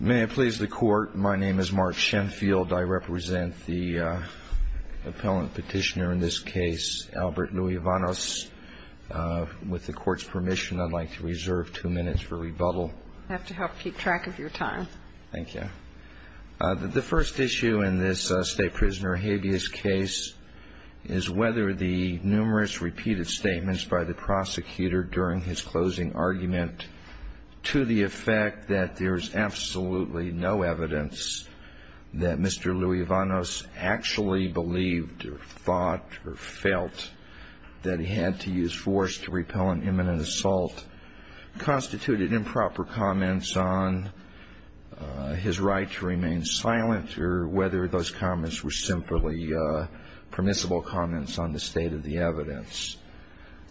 May it please the Court, my name is Mark Shenfield. I represent the appellant petitioner in this case, Albert Luevanos. With the Court's permission, I'd like to reserve two minutes for rebuttal. I have to help keep track of your time. Thank you. The first issue in this state prisoner habeas case is whether the numerous repeated statements by the prosecutor during his closing argument, to the effect that there is absolutely no evidence that Mr. Luevanos actually believed or thought or felt that he had to use force to repel an imminent assault, constituted improper comments on his right to remain silent or whether those comments were simply permissible comments on the state of the evidence.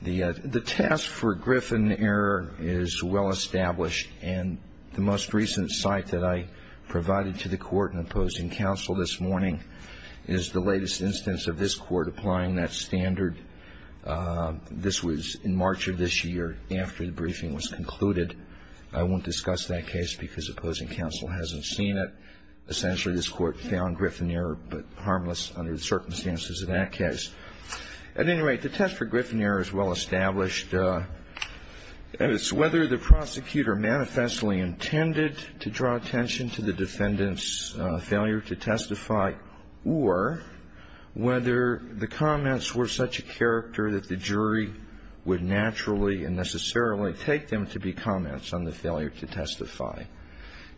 The test for Griffin error is well established and the most recent site that I provided to the Court in opposing counsel this morning is the latest instance of this Court applying that standard. This was in March of this year after the briefing was concluded. I won't discuss that case because opposing counsel hasn't seen it. Essentially, this Court found Griffin error but harmless under the circumstances of that case. At any rate, the test for Griffin error is well established and it's whether the prosecutor manifestly intended to draw attention to the defendant's failure to testify or whether the comments were such a character that the jury would naturally and necessarily take them to be comments on the failure to testify.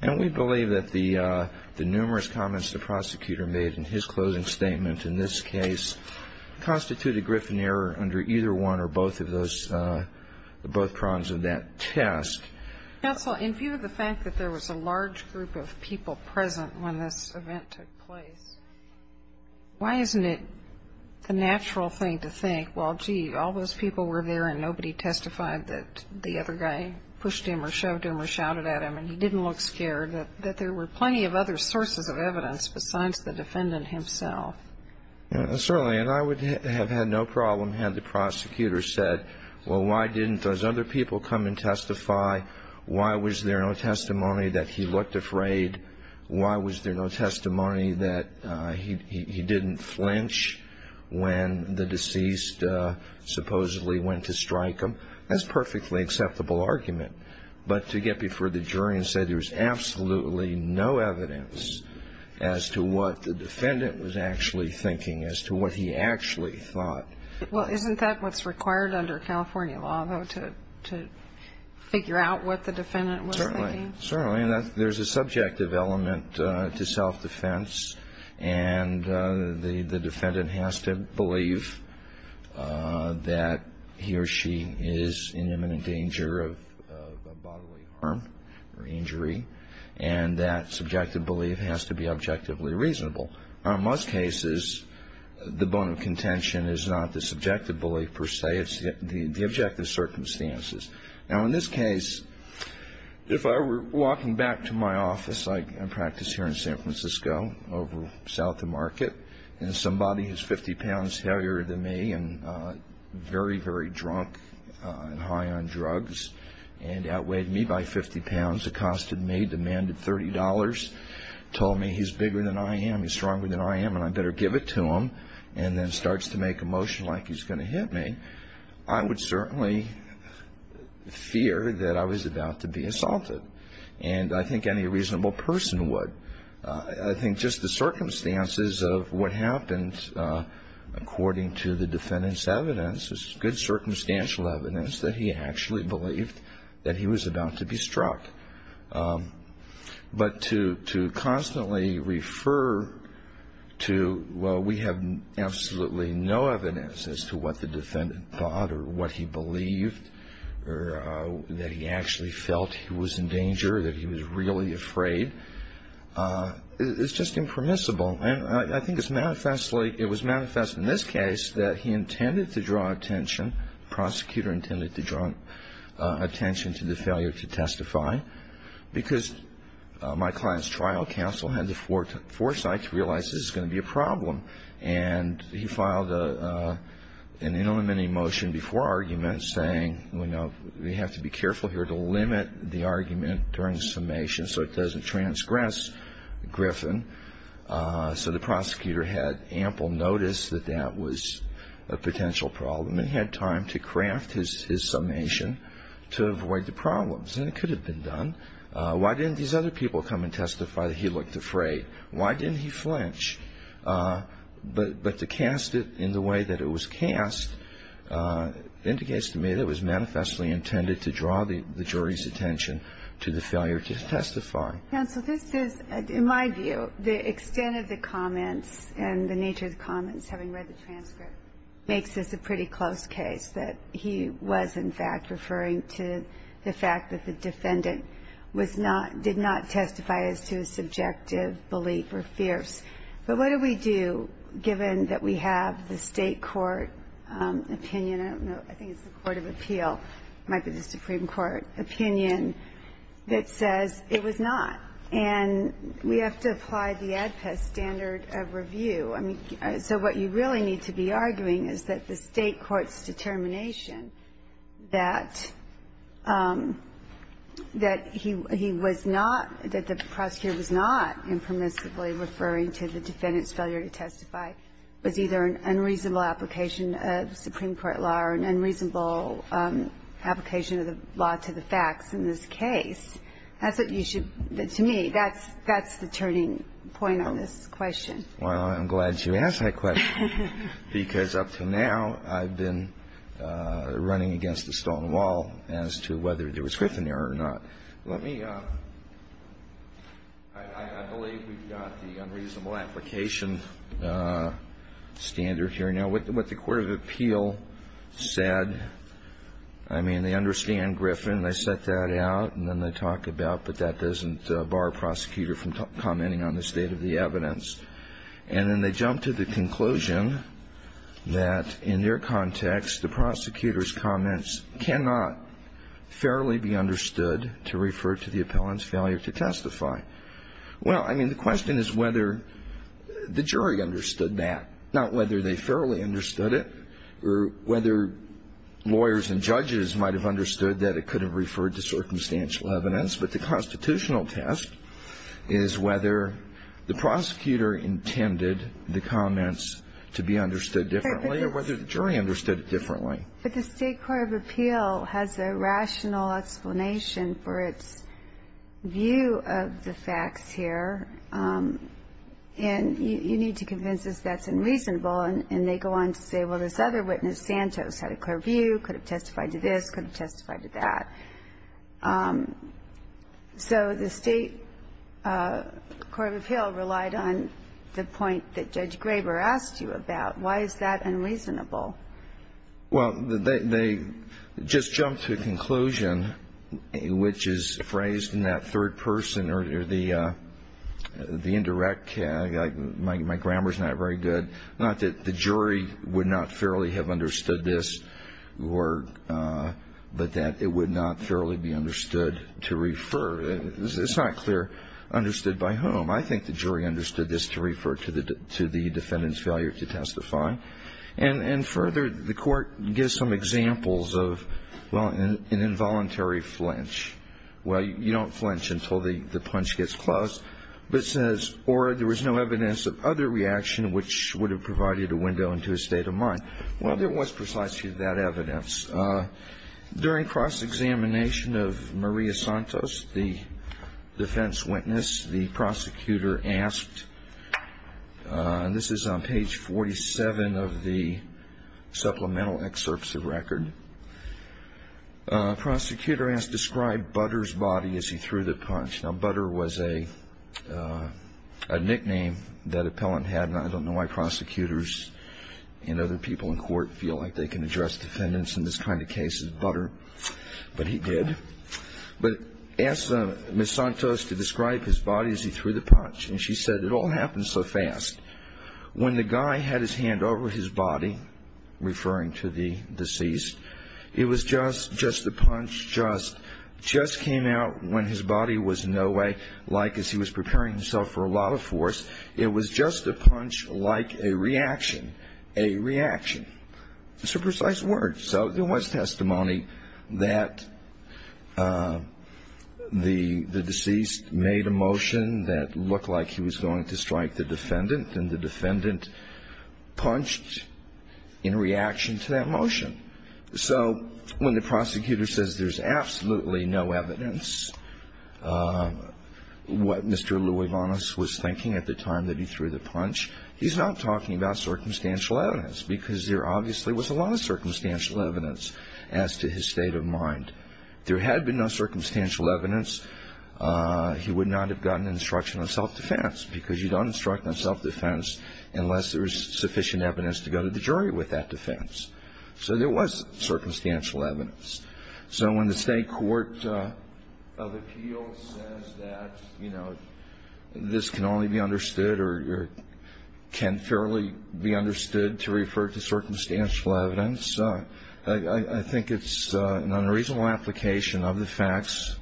And we believe that the numerous comments the prosecutor made in his closing statement in this case constituted Griffin error under either one or both of those, both prongs of that test. Counsel, in view of the fact that there was a large group of people present when this event took place, why isn't it the natural thing to think, well, gee, all those people were there and nobody testified that the other guy pushed him or shoved him or shouted at him and he didn't look scared, that there were plenty of other sources of evidence besides the defendant himself? Certainly. And I would have had no problem had the prosecutor said, well, why didn't those other people come and testify? Why was there no testimony that he looked afraid? Why was there no testimony that he didn't flinch when the deceased supposedly went to strike him? That's a perfectly acceptable argument. But to get before the jury and say there was absolutely no evidence as to what the defendant was actually thinking, as to what he actually thought. Well, isn't that what's required under California law, though, to figure out what the defendant was thinking? Certainly. And there's a subjective element to self-defense. And the defendant has to believe that he or she is in imminent danger of bodily harm or injury. And that subjective belief has to be objectively reasonable. Now, in most cases, the bone of contention is not the subjective belief per se. It's the objective circumstances. Now, in this case, if I were walking back to my office, I practice here in San Francisco, over south of Market, and somebody who's 50 pounds heavier than me and very, very drunk and high on drugs and outweighed me by 50 pounds, accosted me, demanded $30, told me he's bigger than I am. He's stronger than I am, and I better give it to him, and then starts to make a motion like he's going to hit me, I would certainly fear that I was about to be assaulted. And I think any reasonable person would. But to constantly refer to, well, we have absolutely no evidence as to what the defendant thought or what he believed or that he actually felt he was in danger or that he was really afraid, I think that's not a reasonable thing to do. It's just impermissible. And I think it's manifestly, it was manifest in this case that he intended to draw attention, prosecutor intended to draw attention to the failure to testify because my client's trial counsel had the foresight to realize this is going to be a problem. And he filed an ineliminating motion before argument saying, you know, we have to be careful here to limit the argument during the summation so it doesn't transgress Griffin. So the prosecutor had ample notice that that was a potential problem and had time to craft his summation to avoid the problems. And it could have been done. Why didn't these other people come and testify that he looked afraid? Why didn't he flinch? But to cast it in the way that it was cast indicates to me that it was manifestly intended to draw the jury's attention to the failure to testify. Counsel, this is, in my view, the extent of the comments and the nature of the comments, having read the transcript, makes this a pretty close case that he was in fact referring to the fact that the defendant was not, did not testify as to a subjective belief or fears. But what do we do given that we have the State court opinion? I think it's the Court of Appeal. It might be the Supreme Court opinion that says it was not. And we have to apply the ADPES standard of review. I mean, so what you really need to be arguing is that the State court's determination that he was not, that the prosecutor was not impermissibly referring to the defendant's failure to testify was either an unreasonable application of Supreme Court law or an unreasonable application of the law to the facts in this case. That's what you should, to me, that's the turning point on this question. Well, I'm glad you asked that question, because up to now I've been running against a stone wall as to whether there was Gryphon error or not. Let me, I believe we've got the unreasonable application standard here. You know, what the Court of Appeal said, I mean, they understand Gryphon. They set that out, and then they talk about, but that doesn't bar a prosecutor from commenting on the state of the evidence. And then they jump to the conclusion that in their context, the prosecutor's comments cannot fairly be understood to refer to the appellant's failure to testify. Well, I mean, the question is whether the jury understood that, not whether they fairly understood it or whether lawyers and judges might have understood that it could have referred to circumstantial evidence. But the constitutional test is whether the prosecutor intended the comments to be understood differently or whether the jury understood it differently. But the State Court of Appeal has a rational explanation for its view of the facts here. And you need to convince us that's unreasonable. And they go on to say, well, this other witness, Santos, had a clear view, could have testified to this, could have testified to that. So the State Court of Appeal relied on the point that Judge Graber asked you about. Why is that unreasonable? Well, they just jumped to a conclusion, which is phrased in that third person or the indirect. My grammar's not very good. Not that the jury would not fairly have understood this, but that it would not fairly be understood to refer. It's not clear understood by whom. I think the jury understood this to refer to the defendant's failure to testify. And further, the Court gives some examples of, well, an involuntary flinch. Well, you don't flinch until the punch gets close. But it says, or there was no evidence of other reaction which would have provided a window into a state of mind. Well, there was precisely that evidence. During cross-examination of Maria Santos, the defense witness, the prosecutor asked, and this is on page 47 of the supplemental excerpts of record, prosecutor asked, describe Butter's body as he threw the punch. Now, Butter was a nickname that appellant had, and I don't know why prosecutors and other people in court feel like they can address defendants in this kind of case as Butter, but he did. But asked Ms. Santos to describe his body as he threw the punch. And she said, it all happened so fast. When the guy had his hand over his body, referring to the deceased, it was just a punch just came out when his body was in no way like as he was preparing himself for a lot of force. It was just a punch like a reaction, a reaction. It's a precise word. So there was testimony that the deceased made a motion that looked like he was going to strike the defendant, and the defendant punched in reaction to that motion. So when the prosecutor says there's absolutely no evidence, what Mr. Luevanos was thinking at the time that he threw the punch, he's not talking about circumstantial evidence because there obviously was a lot of circumstantial evidence as to his state of mind. If there had been no circumstantial evidence, he would not have gotten instruction on self-defense because you don't instruct on self-defense unless there's sufficient evidence to go to the jury with that defense. So there was circumstantial evidence. So when the state court of appeals says that, you know, this can only be understood or can fairly be understood to refer to circumstantial evidence, I think it's an unreasonable application of the facts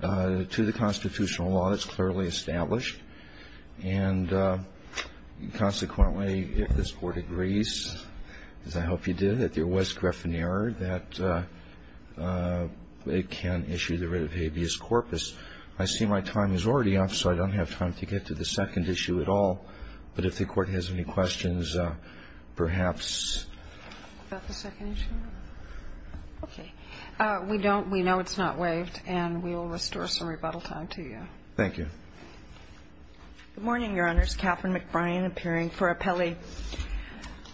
to the constitutional law that's clearly established. And consequently, if this Court agrees, as I hope you did, that there was griffin error, that it can issue the writ of habeas corpus, I see my time is already up, so I don't have time to get to the second issue at all. But if the Court has any questions, perhaps. Is that the second issue? Okay. We don't we know it's not waived, and we will restore some rebuttal time to you. Thank you. Good morning, Your Honors. Katherine McBrien appearing for appellee.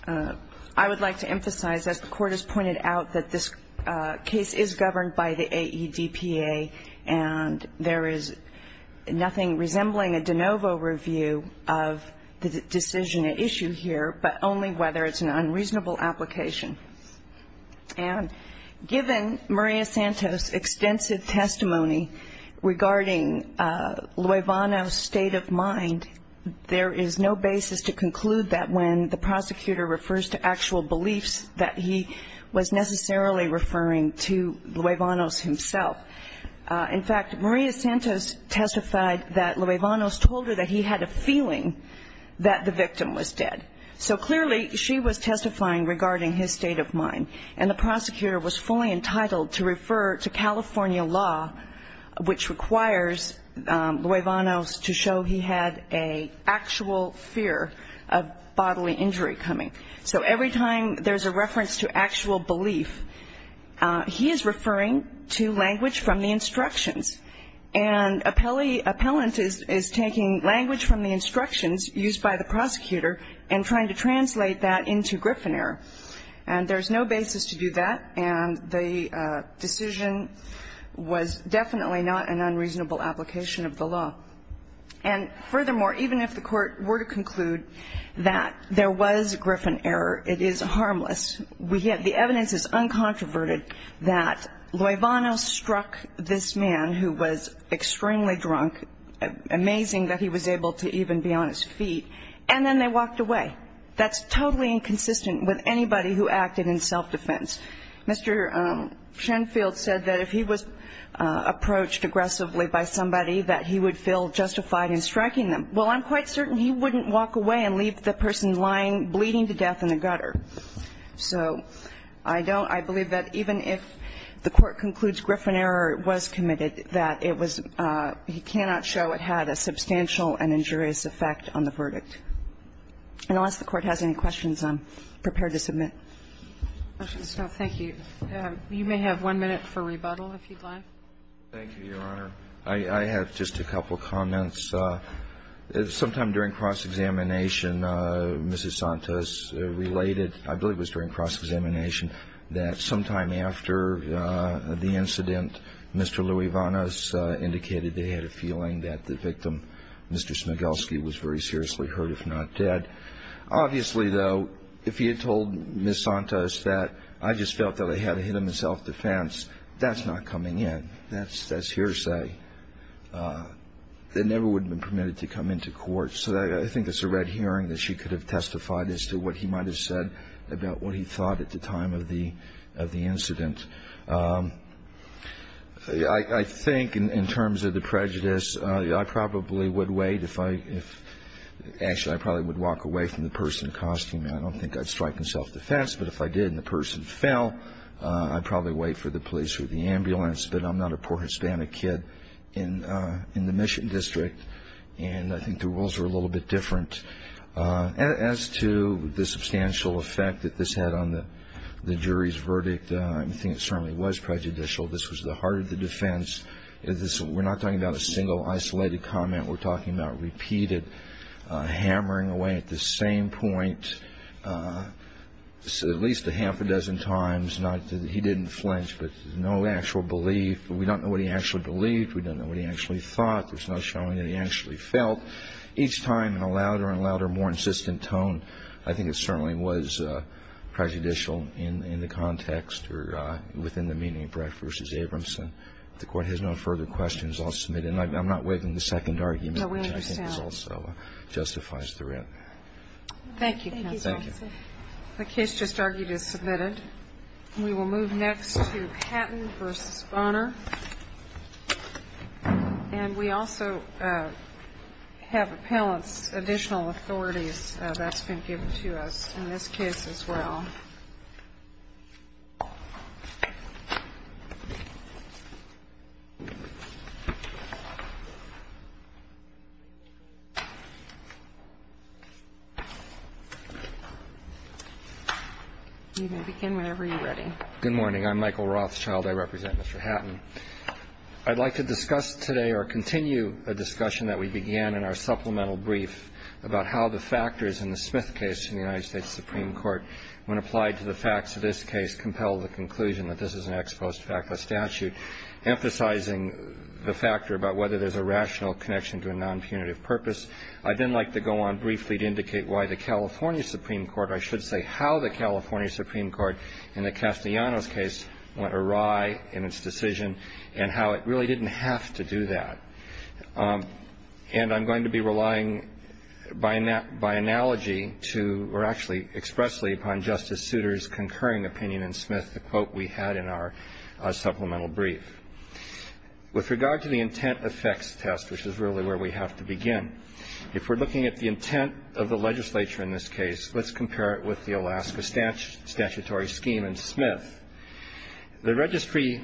I would like to emphasize, as the Court has pointed out, that this case is governed by the AEDPA, and there is nothing resembling a de novo review of the decision at issue here, but only whether it's an unreasonable application. And given Maria Santos' extensive testimony regarding Luevano's state of mind, there is no basis to conclude that when the prosecutor refers to actual beliefs, that he was necessarily referring to Luevano's himself. In fact, Maria Santos testified that Luevano's told her that he had a feeling that the victim was dead. So clearly, she was testifying regarding his state of mind, and the prosecutor was fully entitled to refer to California law, which requires Luevano's to show he had an actual fear of bodily injury coming. So every time there's a reference to actual belief, he is referring to language from the instructions. And appellant is taking language from the instructions used by the prosecutor and trying to translate that into Griffin error. And there's no basis to do that, and the decision was definitely not an unreasonable application of the law. And furthermore, even if the Court were to conclude that there was Griffin error, it is harmless. The evidence is uncontroverted that Luevano struck this man, who was extremely drunk, amazing that he was able to even be on his feet, and then they walked away. That's totally inconsistent with anybody who acted in self-defense. Mr. Shenfield said that if he was approached aggressively by somebody, that he would feel justified in striking them. Well, I'm quite certain he wouldn't walk away and leave the person lying, bleeding to death in a gutter. So I don't – I believe that even if the Court concludes Griffin error was committed, that it was – he cannot show it had a substantial and injurious effect on the verdict. And unless the Court has any questions, I'm prepared to submit. Ms. Kovner. Thank you. You may have one minute for rebuttal, if you'd like. Thank you, Your Honor. I have just a couple comments. Sometime during cross-examination, Mrs. Santos related – I believe it was during cross-examination that sometime after the incident, Mr. Luevano indicated they had a feeling that the victim, Mr. Smigelski, was very seriously hurt, if not dead. Obviously, though, if he had told Ms. Santos that, I just felt that they had to hit him in self-defense, that's not coming in. That's hearsay. That never would have been permitted to come into court. So I think it's a red herring that she could have testified as to what he might have said about what he thought at the time of the incident. I think in terms of the prejudice, I probably would wait if I – actually, I probably would walk away from the person accosting me. I don't think I'd strike him self-defense, but if I did and the person fell, I'd probably wait for the police or the ambulance. But I'm not a poor Hispanic kid in the Mission District, and I think the rules are a little bit different. As to the substantial effect that this had on the jury's verdict, I think it certainly was prejudicial. This was the heart of the defense. We're not talking about a single isolated comment. We're talking about repeated hammering away at the same point at least a half a dozen times. He didn't flinch, but no actual belief. We don't know what he actually believed. We don't know what he actually thought. There's no showing that he actually felt. Each time in a louder and louder, more insistent tone, I think it certainly was prejudicial in the context or within the meaning of Brett v. Abramson. If the Court has no further questions, I'll submit. And I'm not waiving the second argument, which I think also justifies the writ. Thank you, counsel. Thank you. The case just argued is submitted. We will move next to Patton v. Bonner. And we also have appellant's additional authorities that's been given to us in this case as well. You can begin whenever you're ready. Good morning. I'm Michael Rothschild. I represent Mr. Hatton. I'd like to discuss today or continue a discussion that we began in our supplemental brief about how the factors in the Smith case in the United States Supreme Court when applied to the facts of this case compel the conclusion that this is an ex post facto statute, emphasizing the factor about whether there's a rational connection to a nonpunitive purpose. I'd then like to go on briefly to indicate why the California Supreme Court, I should say how the California Supreme Court in the Castellanos case went awry in its decision and how it really didn't have to do that. And I'm going to be relying by analogy to or actually expressly upon Justice Souter's concurring opinion in Smith, the quote we had in our supplemental brief. With regard to the intent effects test, which is really where we have to begin, if we're looking at the intent of the legislature in this case, let's compare it with the Alaska statutory scheme in Smith. The registry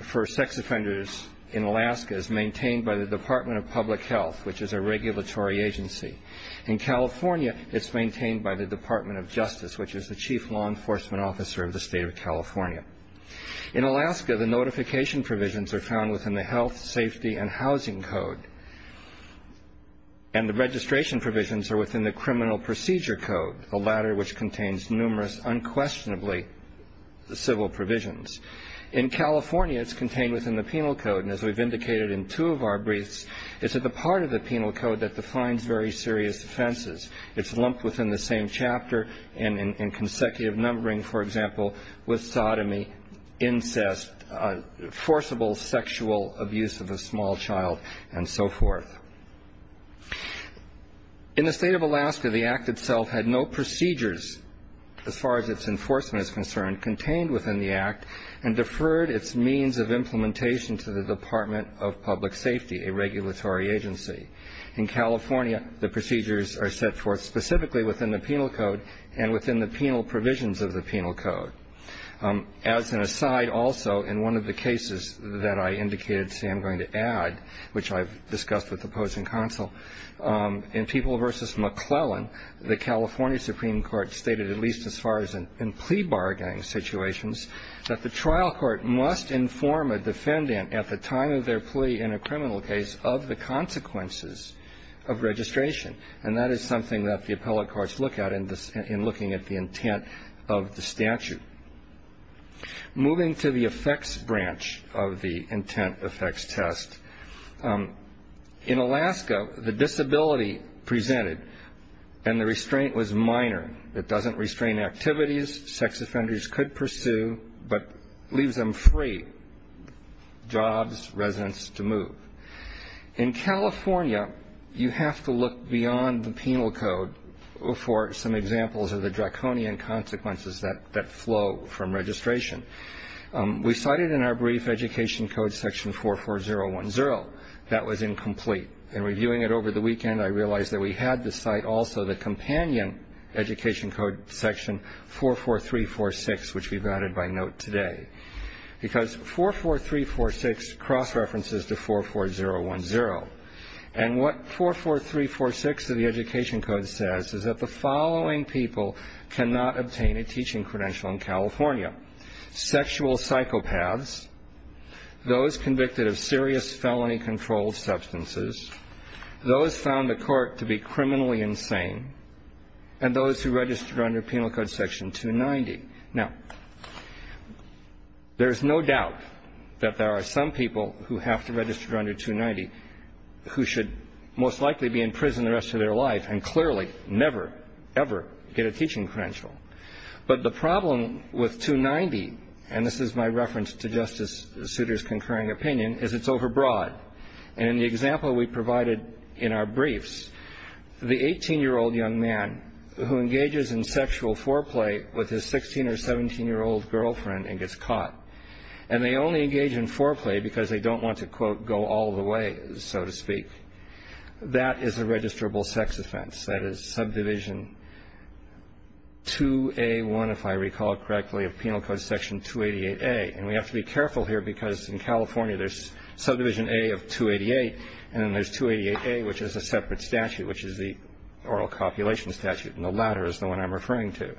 for sex offenders in Alaska is maintained by the Department of Public Health, which is a regulatory agency. In California, it's maintained by the Department of Justice, which is the chief law enforcement officer of the state of California. In Alaska, the notification provisions are found within the Health, Safety, and Housing Code. And the registration provisions are within the Criminal Procedure Code, the latter which contains numerous unquestionably civil provisions. In California, it's contained within the Penal Code. And as we've indicated in two of our briefs, it's at the part of the Penal Code that defines very serious offenses. It's lumped within the same chapter and in consecutive numbering, for example, with sodomy, incest, forcible sexual abuse of a small child, and so forth. In the state of Alaska, the Act itself had no procedures, as far as its enforcement is concerned, contained within the Act and deferred its means of implementation to the Department of Public Safety, a regulatory agency. In California, the procedures are set forth specifically within the Penal Code and within the penal provisions of the Penal Code. As an aside also, in one of the cases that I indicated, see, I'm going to add, which I've discussed with opposing counsel, in People v. McClellan, the California Supreme Court stated at least as far as in plea bargaining situations that the trial court must inform a defendant at the time of their plea in a criminal case of the consequences of registration. And that is something that the appellate courts look at in looking at the intent of the statute. Moving to the effects branch of the intent effects test, in Alaska, the disability presented and the restraint was minor. It doesn't restrain activities. Sex offenders could pursue, but leaves them free, jobs, residence to move. In California, you have to look beyond the Penal Code for some examples of the draconian consequences that flow from registration. We cited in our brief Education Code section 44010. That was incomplete. In reviewing it over the weekend, I realized that we had to cite also the companion Education Code section 44346, which we've added by note today. Because 44346 cross-references to 44010. And what 44346 of the Education Code says is that the following people cannot obtain a teaching credential in California. Sexual psychopaths, those convicted of serious felony-controlled substances, those found the court to be criminally insane, and those who registered under Penal Code section 290. Now, there's no doubt that there are some people who have to register under 290 who should most likely be in prison the rest of their life and clearly never, ever get a teaching credential. But the problem with 290, and this is my reference to Justice Souter's concurring opinion, is it's overbroad. And in the example we provided in our briefs, the 18-year-old young man who engages in sexual foreplay with his 16- or 17-year-old girlfriend and gets caught. And they only engage in foreplay because they don't want to, quote, go all the way, so to speak. That is a registrable sex offense. That is subdivision 2A1, if I recall correctly, of Penal Code section 288A. And we have to be careful here because in California there's subdivision A of 288, and then there's 288A, which is a separate statute, which is the oral copulation statute. And the latter is the one I'm referring to.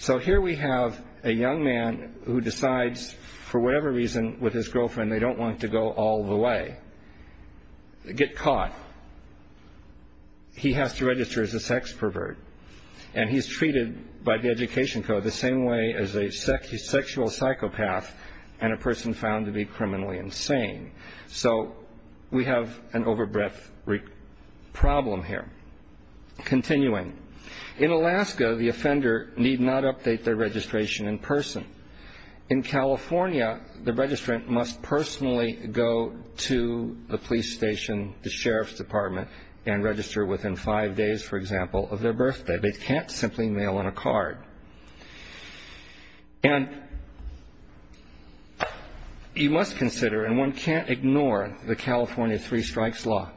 So here we have a young man who decides for whatever reason with his girlfriend they don't want to go all the way, get caught. He has to register as a sex pervert. And he's treated by the Education Code the same way as a sexual psychopath and a person found to be criminally insane. So we have an overbreadth problem here. Continuing. In Alaska, the offender need not update their registration in person. In California, the registrant must personally go to the police station, the sheriff's department, and register within five days, for example, of their birthday. They can't simply mail in a card. And you must consider, and one can't ignore the California Three Strikes Law,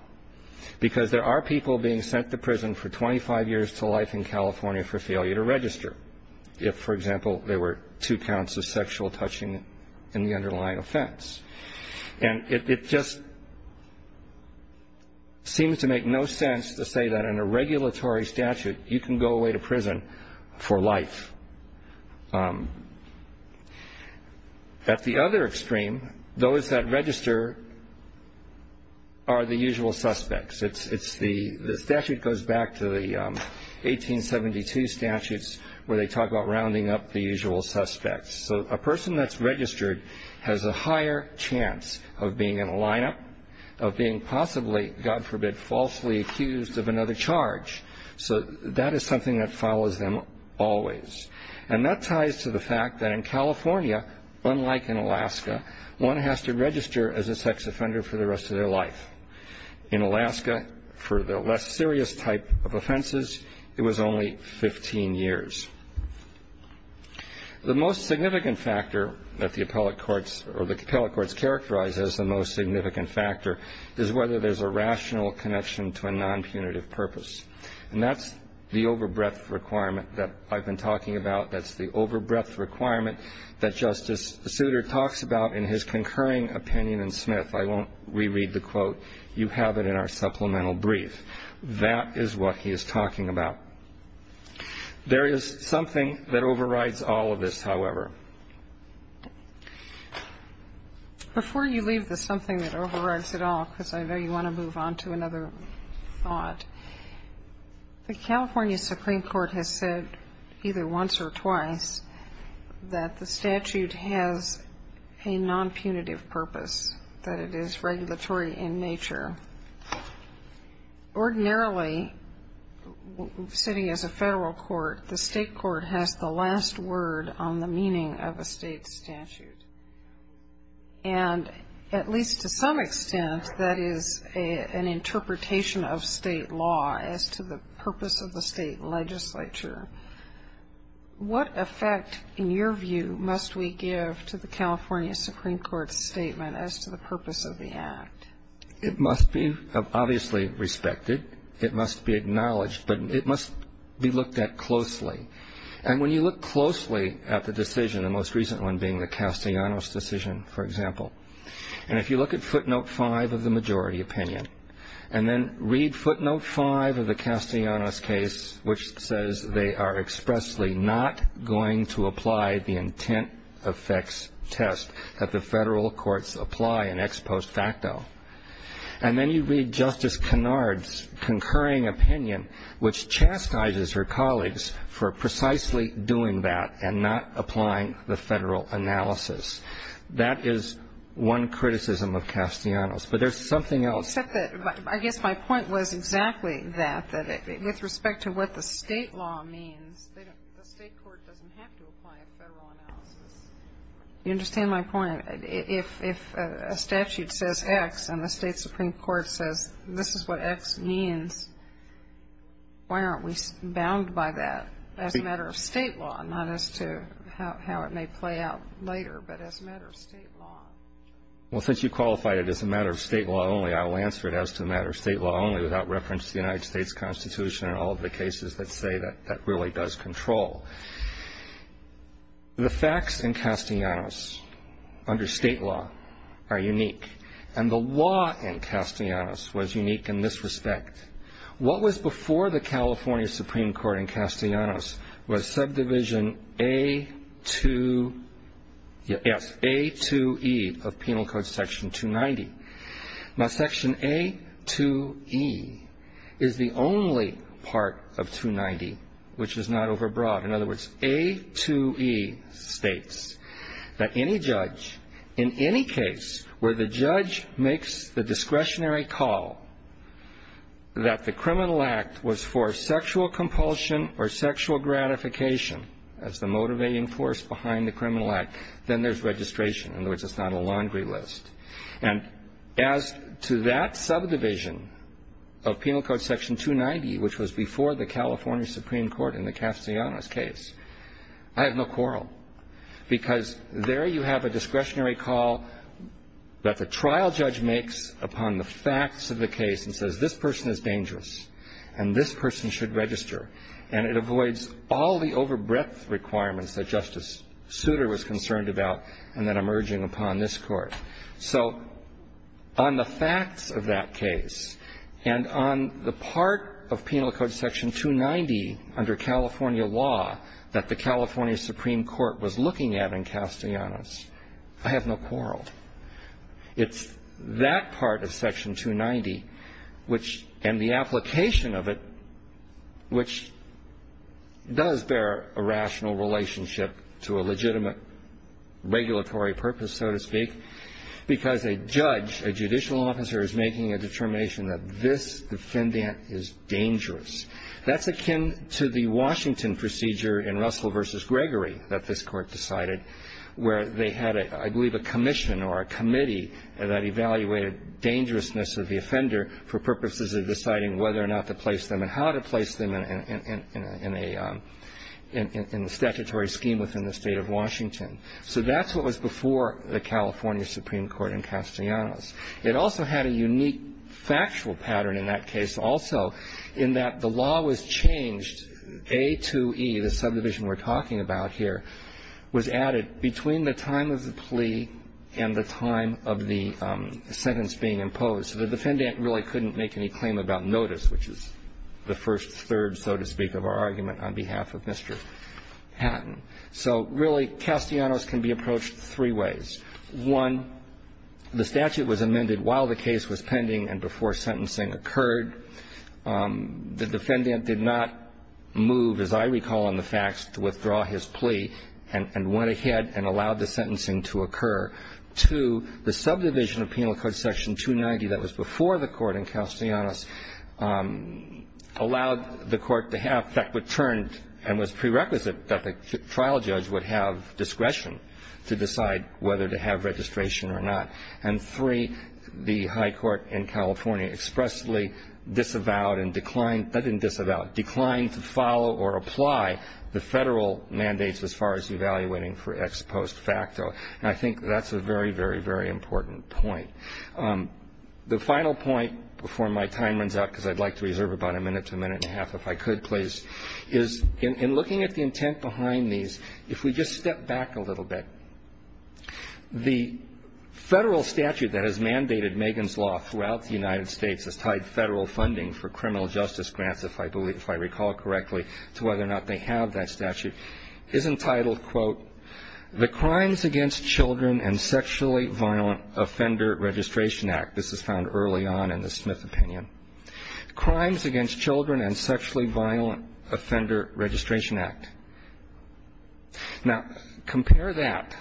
because there are people being sent to prison for 25 years to life in California for failure to register, if, for example, there were two counts of sexual touching in the underlying offense. And it just seems to make no sense to say that in a regulatory statute you can go away to prison for life. At the other extreme, those that register are the usual suspects. The statute goes back to the 1872 statutes where they talk about rounding up the usual suspects. So a person that's registered has a higher chance of being in a lineup, of being possibly, God forbid, falsely accused of another charge. So that is something that follows them always. And that ties to the fact that in California, unlike in Alaska, one has to register as a sex offender for the rest of their life. In Alaska, for the less serious type of offenses, it was only 15 years. The most significant factor that the appellate courts characterize as the most significant factor is whether there's a rational connection to a nonpunitive purpose. And that's the overbreadth requirement that I've been talking about. That's the overbreadth requirement that Justice Souter talks about in his concurring opinion in Smith. I won't reread the quote. You have it in our supplemental brief. That is what he is talking about. There is something that overrides all of this, however. Before you leave the something that overrides it all, because I know you want to move on to another thought, the California Supreme Court has said either once or twice that the statute has a nonpunitive purpose, that it is regulatory in nature. Ordinarily, sitting as a federal court, the state court has the last word on the meaning of a state statute. And at least to some extent, that is an interpretation of state law as to the purpose of the state legislature. What effect, in your view, must we give to the California Supreme Court's statement as to the purpose of the act? It must be obviously respected. It must be acknowledged. But it must be looked at closely. And when you look closely at the decision, the most recent one being the Castellanos decision, for example, and if you look at footnote five of the majority opinion and then read footnote five of the Castellanos case, which says they are expressly not going to apply the intent effects test that the federal courts apply in ex post facto, and then you read Justice Kennard's concurring opinion, which chastises her colleagues for precisely doing that and not applying the federal analysis. That is one criticism of Castellanos. But there's something else. Except that I guess my point was exactly that, that with respect to what the state law means, the state court doesn't have to apply a federal analysis. You understand my point. If a statute says X and the state supreme court says this is what X means, why aren't we bound by that as a matter of state law, not as to how it may play out later, but as a matter of state law? Well, since you qualified it as a matter of state law only, I'll answer it as to a matter of state law only without reference to the United States Constitution and all of the cases that say that that really does control. The facts in Castellanos under state law are unique. And the law in Castellanos was unique in this respect. What was before the California Supreme Court in Castellanos was subdivision A2E of penal code section 290. Now, section A2E is the only part of 290 which is not overbroad. In other words, A2E states that any judge in any case where the judge makes the discretionary call that the criminal act was for sexual compulsion or sexual gratification as the motivating force behind the criminal act, then there's registration. In other words, it's not a laundry list. And as to that subdivision of penal code section 290, which was before the California Supreme Court in the Castellanos case, I have no quarrel. Because there you have a discretionary call that the trial judge makes upon the facts of the case and says this person is dangerous and this person should register. And it avoids all the overbreadth requirements that Justice Souter was concerned about and then emerging upon this Court. So on the facts of that case and on the part of penal code section 290 under California law that the California Supreme Court was looking at in Castellanos, I have no quarrel. It's that part of section 290, which, and the application of it, which does bear a rational relationship to a legitimate regulatory purpose, so to speak, because a judge, a judicial officer, is making a determination that this defendant is dangerous. That's akin to the Washington procedure in Russell v. Gregory that this Court decided where they had, I believe, a commission or a committee that evaluated dangerousness of the offender for purposes of deciding whether or not to place them and how to place them in the statutory scheme within the State of Washington. So that's what was before the California Supreme Court in Castellanos. It also had a unique factual pattern in that case also in that the law was changed. A2E, the subdivision we're talking about here, was added between the time of the plea and the time of the sentence being imposed. So the defendant really couldn't make any claim about notice, which is the first third, so to speak, of our argument on behalf of Mr. Hatton. So really, Castellanos can be approached three ways. One, the statute was amended while the case was pending and before sentencing occurred. The defendant did not move, as I recall in the facts, to withdraw his plea and went ahead and allowed the sentencing to occur. Two, the subdivision of Penal Code Section 290 that was before the court in Castellanos allowed the court to have that returned and was prerequisite that the trial judge would have discretion to decide whether to have registration or not. And three, the high court in California expressly disavowed and declined to follow or apply the federal mandates as far as evaluating for ex post facto. And I think that's a very, very, very important point. The final point before my time runs out, because I'd like to reserve about a minute to a minute and a half if I could, please, is in looking at the intent behind these, if we just step back a little bit, the federal statute that has mandated Megan's Law throughout the United States has tied federal funding for criminal justice grants, if I recall correctly, to whether or not they have that statute, is entitled, quote, the Crimes Against Children and Sexually Violent Offender Registration Act. This is found early on in the Smith opinion. Crimes Against Children and Sexually Violent Offender Registration Act. Now, compare that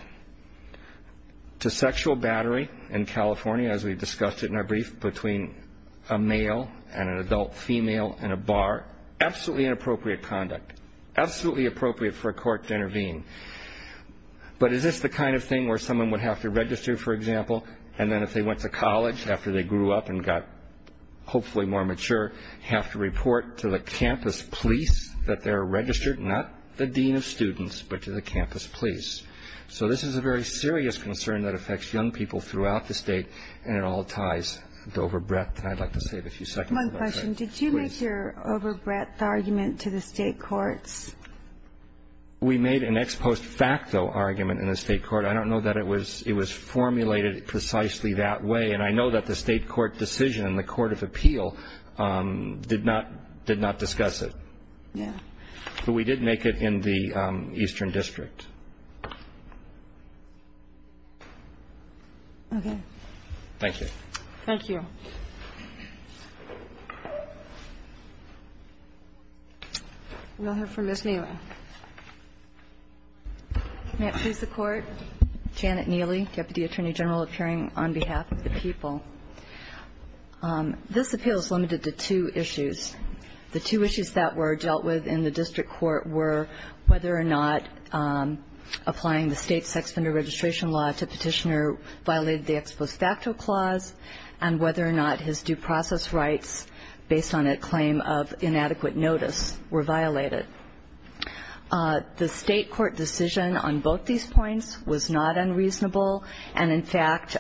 to sexual battery in California, as we discussed it in our brief, between a male and an adult female in a bar, absolutely inappropriate conduct, absolutely appropriate for a court to intervene. But is this the kind of thing where someone would have to register, for example, and then if they went to college after they grew up and got hopefully more mature, have to report to the campus police that they're registered, not the dean of students, but to the campus police. So this is a very serious concern that affects young people throughout the state, and it all ties to over breadth, and I'd like to save a few seconds. One question. Did you make your over breadth argument to the state courts? We made an ex post facto argument in the state court. I don't know that it was formulated precisely that way, and I know that the state court decision in the court of appeal did not discuss it. Yeah. But we did make it in the Eastern District. Okay. Thank you. Thank you. We'll hear from Ms. Neely. May it please the Court. Janet Neely, Deputy Attorney General, appearing on behalf of the people. This appeal is limited to two issues. The two issues that were dealt with in the district court were whether or not applying the state sex offender registration law to Petitioner violated the ex post facto clause, and whether or not his due process rights, based on a claim of inadequate notice, were violated. The state court decision on both these points was not unreasonable, and, in fact,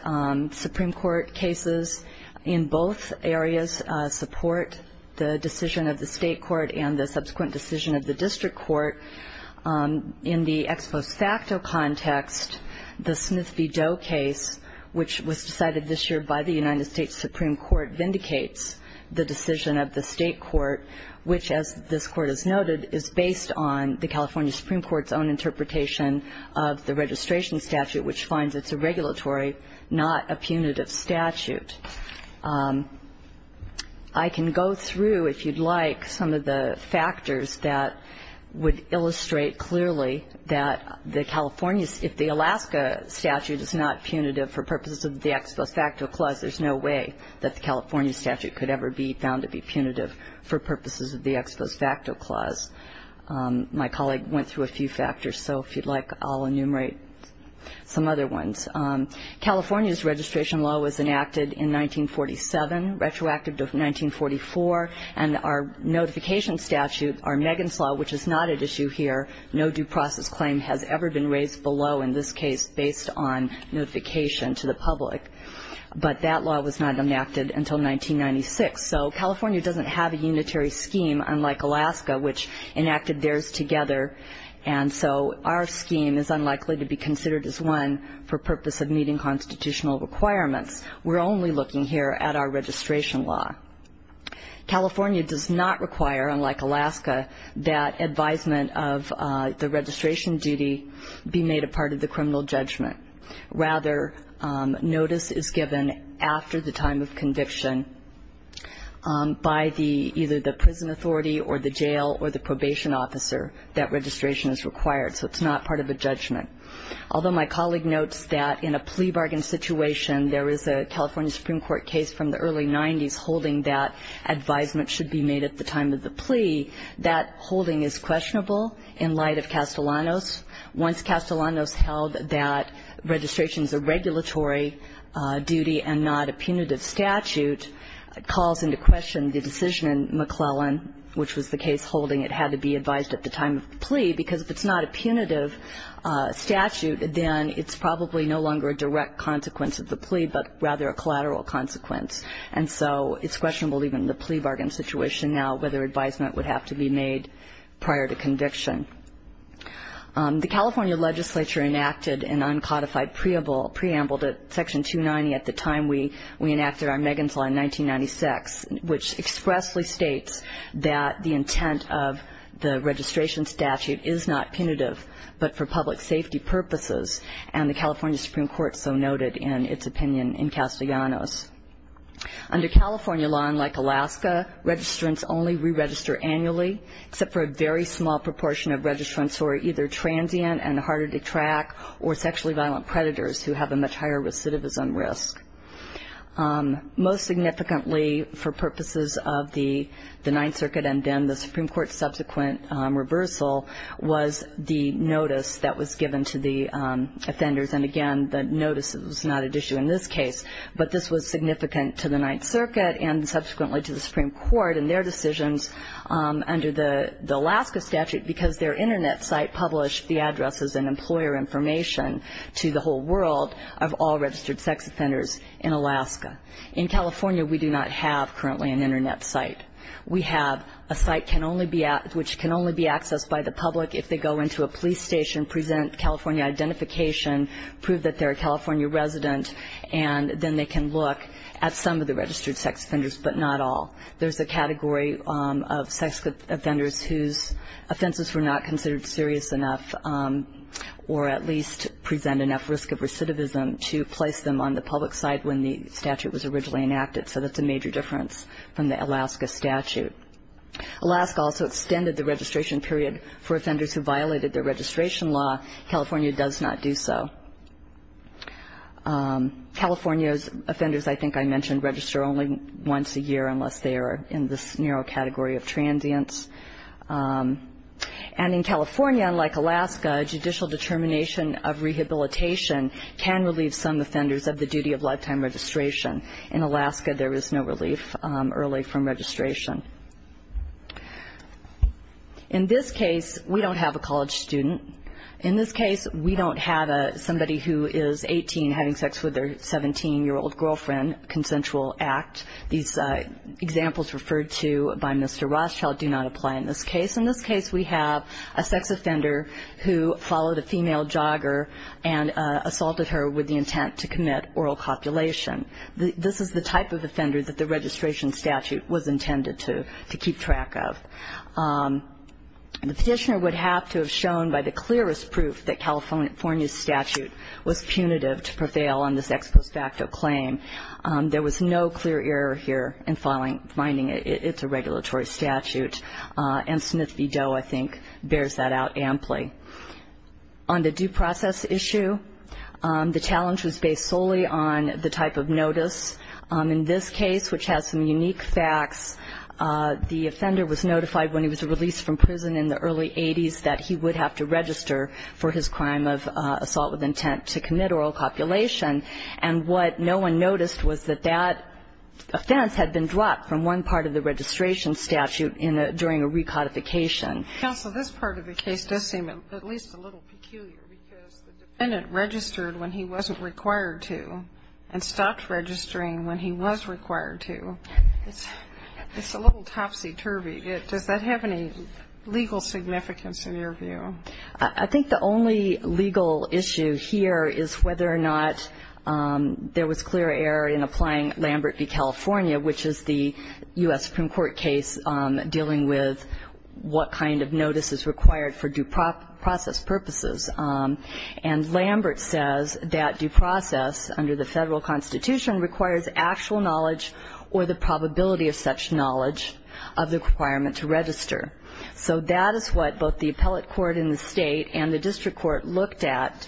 Supreme Court cases in both areas support the decision of the state court and the subsequent decision of the district court. In the ex post facto context, the Smith v. Doe case, which was decided this year by the United States Supreme Court, vindicates the decision of the state court, which, as this court has noted, is based on the California Supreme Court's own interpretation of the registration statute, which finds it's a regulatory, not a punitive statute. I can go through, if you'd like, some of the factors that would illustrate the California, if the Alaska statute is not punitive for purposes of the ex post facto clause, there's no way that the California statute could ever be found to be punitive for purposes of the ex post facto clause. My colleague went through a few factors, so if you'd like, I'll enumerate some other ones. California's registration law was enacted in 1947, retroactive to 1944, and our notification statute, our Megan's Law, which is not at issue here, no due process claim has ever been raised below in this case based on notification to the public. But that law was not enacted until 1996. So California doesn't have a unitary scheme, unlike Alaska, which enacted theirs together, and so our scheme is unlikely to be considered as one for purpose of meeting constitutional requirements. We're only looking here at our registration law. California does not require, unlike Alaska, that advisement of the registration duty be made a part of the criminal judgment. Rather, notice is given after the time of conviction by either the prison authority or the jail or the probation officer that registration is required, so it's not part of a judgment. Although my colleague notes that in a plea bargain situation, there is a California Supreme Court case from the early 90s holding that advisement should be made at the time of the plea, that holding is questionable in light of Castellanos. Once Castellanos held that registration is a regulatory duty and not a punitive statute, it calls into question the decision in McClellan, which was the case holding it had to be advised at the time of the plea, because if it's not a punitive statute, then it's probably no longer a direct consequence of the plea, but rather a collateral consequence, and so it's questionable even in the plea bargain situation now whether advisement would have to be made prior to conviction. The California legislature enacted an uncodified preamble to Section 290 at the time we enacted our Megan's Law in 1996, which expressly states that the intent of the registration statute is not punitive but for public safety purposes, and the California legislature has not enacted that preamble. Under California law, unlike Alaska, registrants only re-register annually, except for a very small proportion of registrants who are either transient and harder to track or sexually violent predators who have a much higher recidivism risk. Most significantly for purposes of the Ninth Circuit and then the Supreme Court's decision under the Alaska statute, because their Internet site published the addresses and employer information to the whole world of all registered sex offenders in Alaska. In California, we do not have currently an Internet site. We have a site which can only be accessed by the public if they go into a police station, present California identification, prove that they're a California resident, and then they can look at some of the registered sex offenders, but not all. There's a category of sex offenders whose offenses were not considered serious enough or at least present enough risk of recidivism to place them on the public side when the statute was originally enacted, so that's a major difference from the Alaska statute. Alaska also extended the registration period for offenders who violated their registration law. California does not do so. California's offenders I think I mentioned register only once a year unless they are in this narrow category of transients. And in California, unlike Alaska, judicial determination of rehabilitation can relieve some offenders of the duty of lifetime registration. In Alaska, there is no relief early from registration. In this case, we don't have a college student. In this case, we don't have somebody who is 18 having sex with their 17-year-old girlfriend, consensual act. These examples referred to by Mr. Rothschild do not apply in this case. In this case, we have a sex offender who followed a female jogger and assaulted her with the intent to commit oral copulation. This is the type of offender that the registration statute was intended to keep track of. The petitioner would have to have shown by the clearest proof that California's statute was punitive to prevail on this ex post facto claim. There was no clear error here in finding it's a regulatory statute, and Smith v. Doe I think bears that out on the type of notice in this case, which has some unique facts. The offender was notified when he was released from prison in the early 80s that he would have to register for his crime of assault with intent to commit oral copulation. And what no one noticed was that that offense had been dropped from one part of the registration statute during a recodification. Counsel, this part of the case does seem at least a little peculiar because the defendant registered when he wasn't required to and stopped registering when he was required to. It's a little topsy-turvy. Does that have any legal significance in your view? I think the only legal issue here is whether or not there was clear error in applying Lambert v. Doe to the kind of notices required for due process purposes. And Lambert says that due process under the federal constitution requires actual knowledge or the probability of such knowledge of the requirement to register. So that is what both the appellate court in the state and the district court looked at.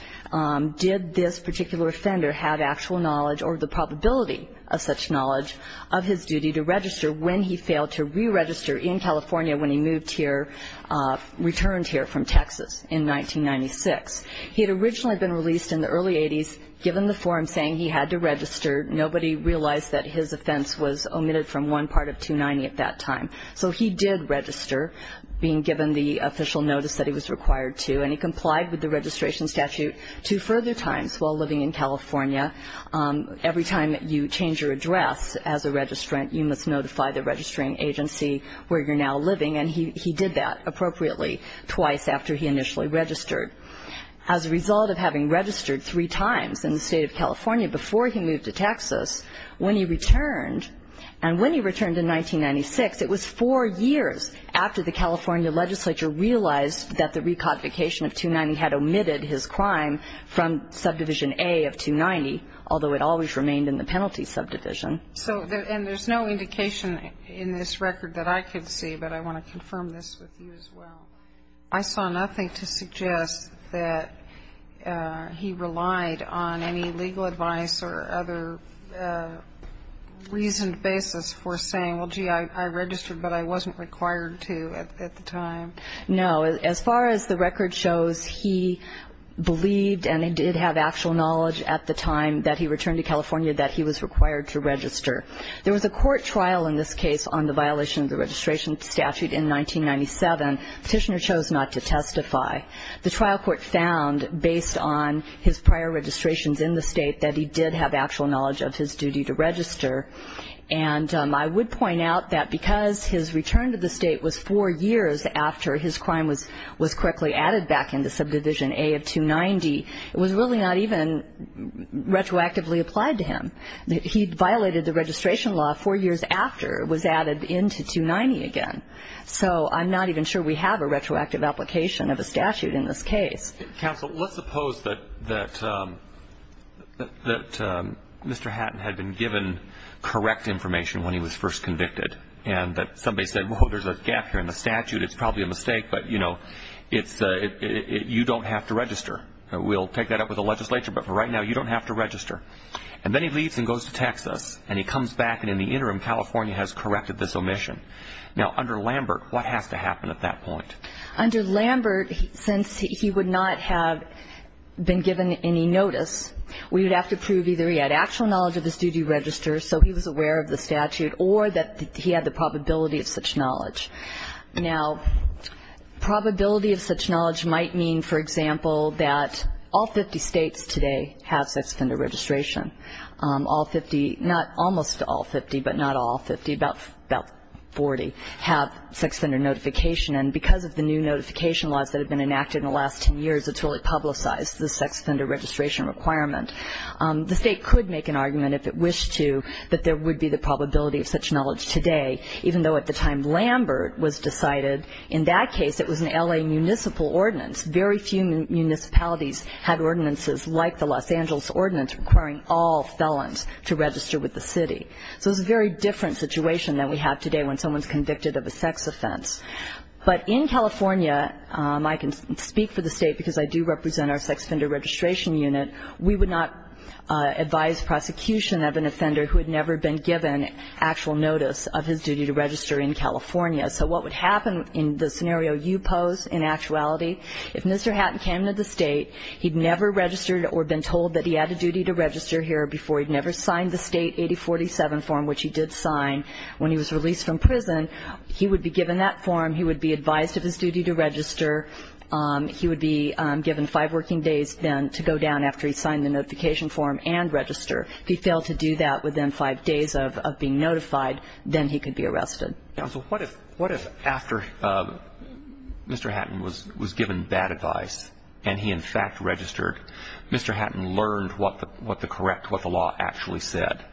Did this particular offender have actual knowledge or the probability of such knowledge of his duty to register when he failed to re-register in California when he moved here, returned here from Texas in 1996? He had originally been released in the early 80s, given the form saying he had to register. Nobody realized that his offense was omitted from one part of 290 at that time. So he did register, being given the official notice that he was required to, and he complied with the registration statute two further times while living in California. Every time you change your address as a registrant, you must notify the registering agency where you're now living. And he did that appropriately twice after he initially registered. As a result of having registered three times in the state of California before he moved to Texas, when he returned, and when he returned in 1996, it was four years after the California legislature realized that the recodification of 290 had omitted his crime from subdivision A of 290, although it always remained in the penalty subdivision. And there's no indication in this record that I could see, but I want to confirm this with you as well. I saw nothing to suggest that he relied on any legal advice or other reasoned basis for saying, well, gee, I registered, but I wasn't required to at the time. No. As far as the record shows, he believed and did have actual knowledge at the time that he returned to California that he was required to register. There was a court trial in this case on the violation of the registration statute in 1997. Petitioner chose not to testify. The trial court found, based on his prior registrations in the state, that he did have actual knowledge of his duty to register. And I would point out that because his return to the state was four years after his crime was correctly added back into subdivision A of 290, it was really not even retroactively applied to him. He violated the registration law four years after it was added into 290 again. So I'm not even sure we have a retroactive application of a statute in this case. Counsel, let's suppose that Mr. Hatton had been given correct information when he was first convicted and that somebody said, well, there's a gap here in the statute. It's probably a mistake, but, you know, you don't have to register. We'll take that up with the legislature, but for right now, you don't have to register. And then he leaves and goes to Texas, and he comes back, and in the interim, California has corrected this omission. Now, under Lambert, what has to happen at that point? Under Lambert, since he would not have been given any notice, we would have to prove either he had actual knowledge of his duty to register, so he was aware of the statute, or that he had the probability of such knowledge. Now, probability of such knowledge might mean, for example, that all 50 states today have sex offender registration. All 50, not almost all 50, but not all 50, about 40, have sex offender notification. And because of the new notification laws that have been enacted in the last 10 years, it's really publicized the sex offender registration requirement. The state could make an argument, if it wished to, that there would be the probability of such knowledge today, even though at the time Lambert was decided, in that case, it was an L.A. municipal ordinance. Very few municipalities had ordinances like the Los Angeles ordinance requiring all felons to register with the city. So it's a very different situation than we have today when someone's convicted of a sex offense. But in California, I can speak for the State because I do represent our sex offender registration unit, we would not advise prosecution of an offender who had never been given actual notice of his duty to register in California. So what would happen in the scenario you pose in actuality, if Mr. Hatton came to the State, he'd never registered or been told that he had a duty to register here before he'd never signed the State 8047 form, which he did sign when he was released from prison, he would be given that form, he would be advised of his duty to register, he would be given five working days then to go down after he signed the notification form and register. If he failed to do that within five days of being notified, then he could be arrested. So what if after Mr. Hatton was given that advice and he, in fact, registered, Mr. Hatton learned what the correct, what the law actually said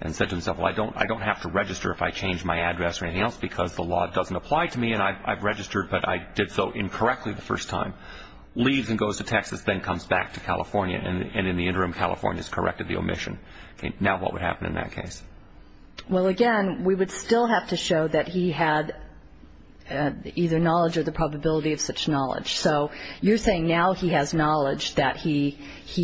and said to himself, well, I don't have to register if I change my address or anything else because the law doesn't apply to me and I've registered but I did so incorrectly the first time, leaves and goes to Texas, then comes back to California and in the interim California has corrected the omission. Now what would happen in that case? Well, again, we would still have to show that he had either knowledge or the probability of such knowledge. So you're saying now he has knowledge that he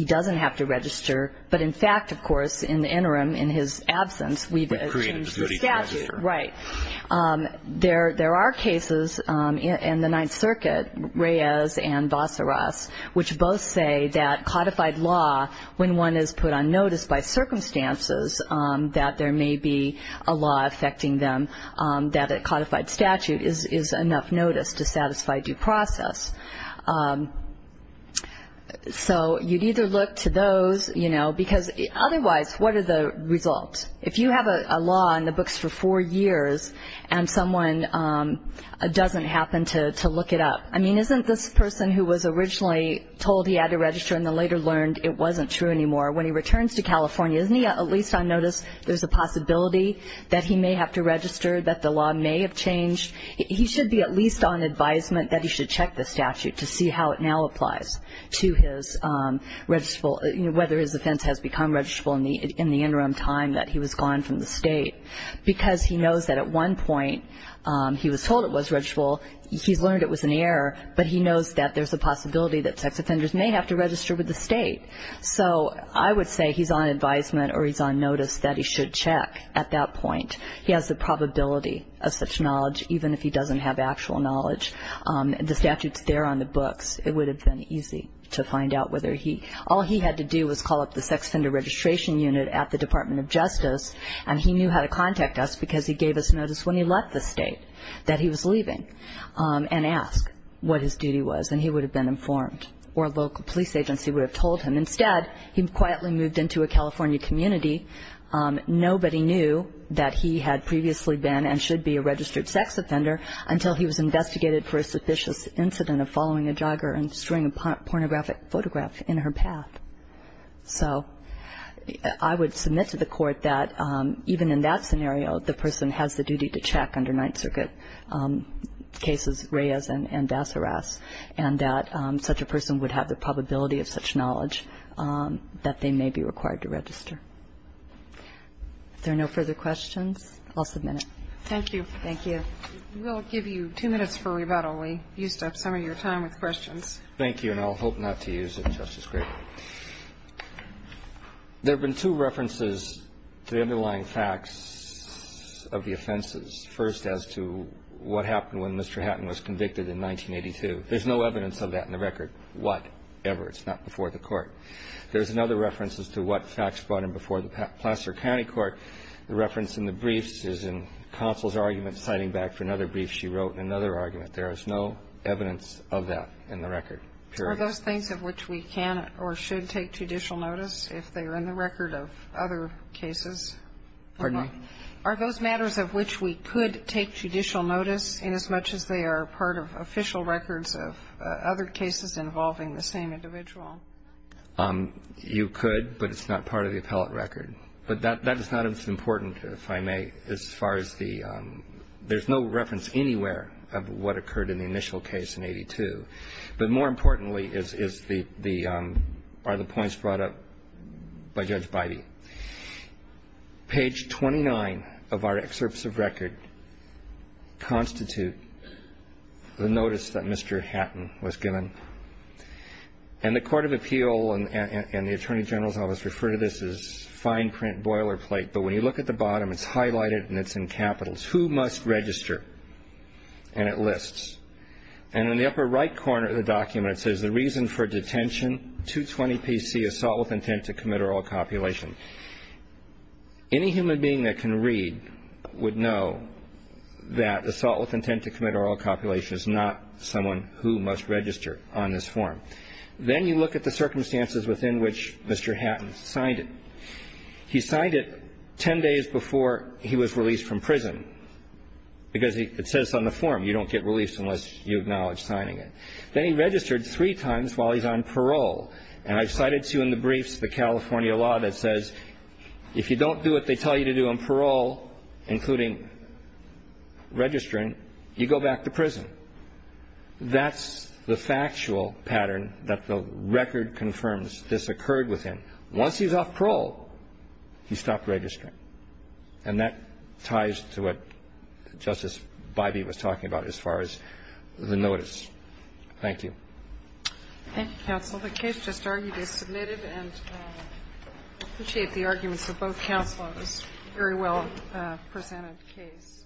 doesn't have to register, but in fact, of course, in the interim in his absence we've changed the statute. Right. There are cases in the Ninth Circuit, Reyes and Vassaras, which both say that codified law when one is put on notice by circumstances that there may be a law affecting them, that a codified statute is enough notice to satisfy due process. So you'd either look to those, you know, because otherwise what are the results? If you have a law in the books for four years and someone doesn't happen to look it up, I mean, isn't this person who was originally told he had to register and then later learned it wasn't true anymore, when he returns to California, isn't he at least on notice? There's a possibility that he may have to register, that the law may have changed. He should be at least on advisement that he should check the statute to see how it now applies to his registrable, whether his offense has become registrable in the interim time that he was gone from the state, because he knows that at one point he was told it was registrable, he's learned it was an error, but he knows that there's a possibility that sex offenders may have to register with the state. So I would say he's on advisement or he's on notice that he should check at that point. He has the probability of such knowledge, even if he doesn't have actual knowledge. The statute's there on the books. It would have been easy to find out whether he – all he had to do was call up the sex offender registration unit at the Department of Justice, and he knew how to contact us because he gave us notice when he left the state that he was leaving and asked what his duty was, and he would have been informed, or a local police agency would have told him. Instead, he quietly moved into a California community. Nobody knew that he had previously been and should be a registered sex offender until he was investigated for a sufficient incident of following a jogger and storing a pornographic photograph in her path. So I would submit to the court that even in that scenario, the person has the duty to check under Ninth Circuit cases, Reyes and Dasseras, and that such a person would have the probability of such knowledge that they may be required to register. If there are no further questions, I'll submit it. Thank you. Thank you. We'll give you two minutes for rebuttal. We used up some of your time with questions. Thank you, and I'll hope not to use it, Justice Gray. There have been two references to the underlying facts of the offenses. First, as to what happened when Mr. Hatton was convicted in 1982. There's no evidence of that in the record, whatever. It's not before the Court. There's another reference as to what facts brought him before the Placer County Court. The reference in the briefs is in Counsel's argument citing back for another brief she wrote in another argument. There is no evidence of that in the record, period. Are those things of which we can or should take judicial notice if they are in the record of other cases? Pardon me? Are those matters of which we could take judicial notice inasmuch as they are part of official records of other cases involving the same individual? You could, but it's not part of the appellate record. But that is not as important, if I may, as far as the – there's no reference anywhere of what occurred in the initial case in 82. But more importantly is the – are the points brought up by Judge Bidey. Page 29 of our excerpts of record constitute the notice that Mr. Hatton was given. And the Court of Appeal and the Attorney General's Office refer to this as fine print boilerplate. But when you look at the bottom, it's highlighted and it's in capitals. And it lists. And in the upper right corner of the document, it says, Any human being that can read would know that assault with intent to commit oral copulation is not someone who must register on this form. Then you look at the circumstances within which Mr. Hatton signed it. He signed it 10 days before he was released from prison. Because it says on the form, you don't get release unless you acknowledge signing it. Then he registered three times while he's on parole. And I've cited to you in the briefs the California law that says if you don't do what they tell you to do on parole, including registering, you go back to prison. That's the factual pattern that the record confirms this occurred with him. Once he's off parole, he stopped registering. And that ties to what Justice Bybee was talking about as far as the notice. Thank you. Thank you, counsel. The case just argued is submitted, and I appreciate the arguments of both counselors. It's a very well-presented case.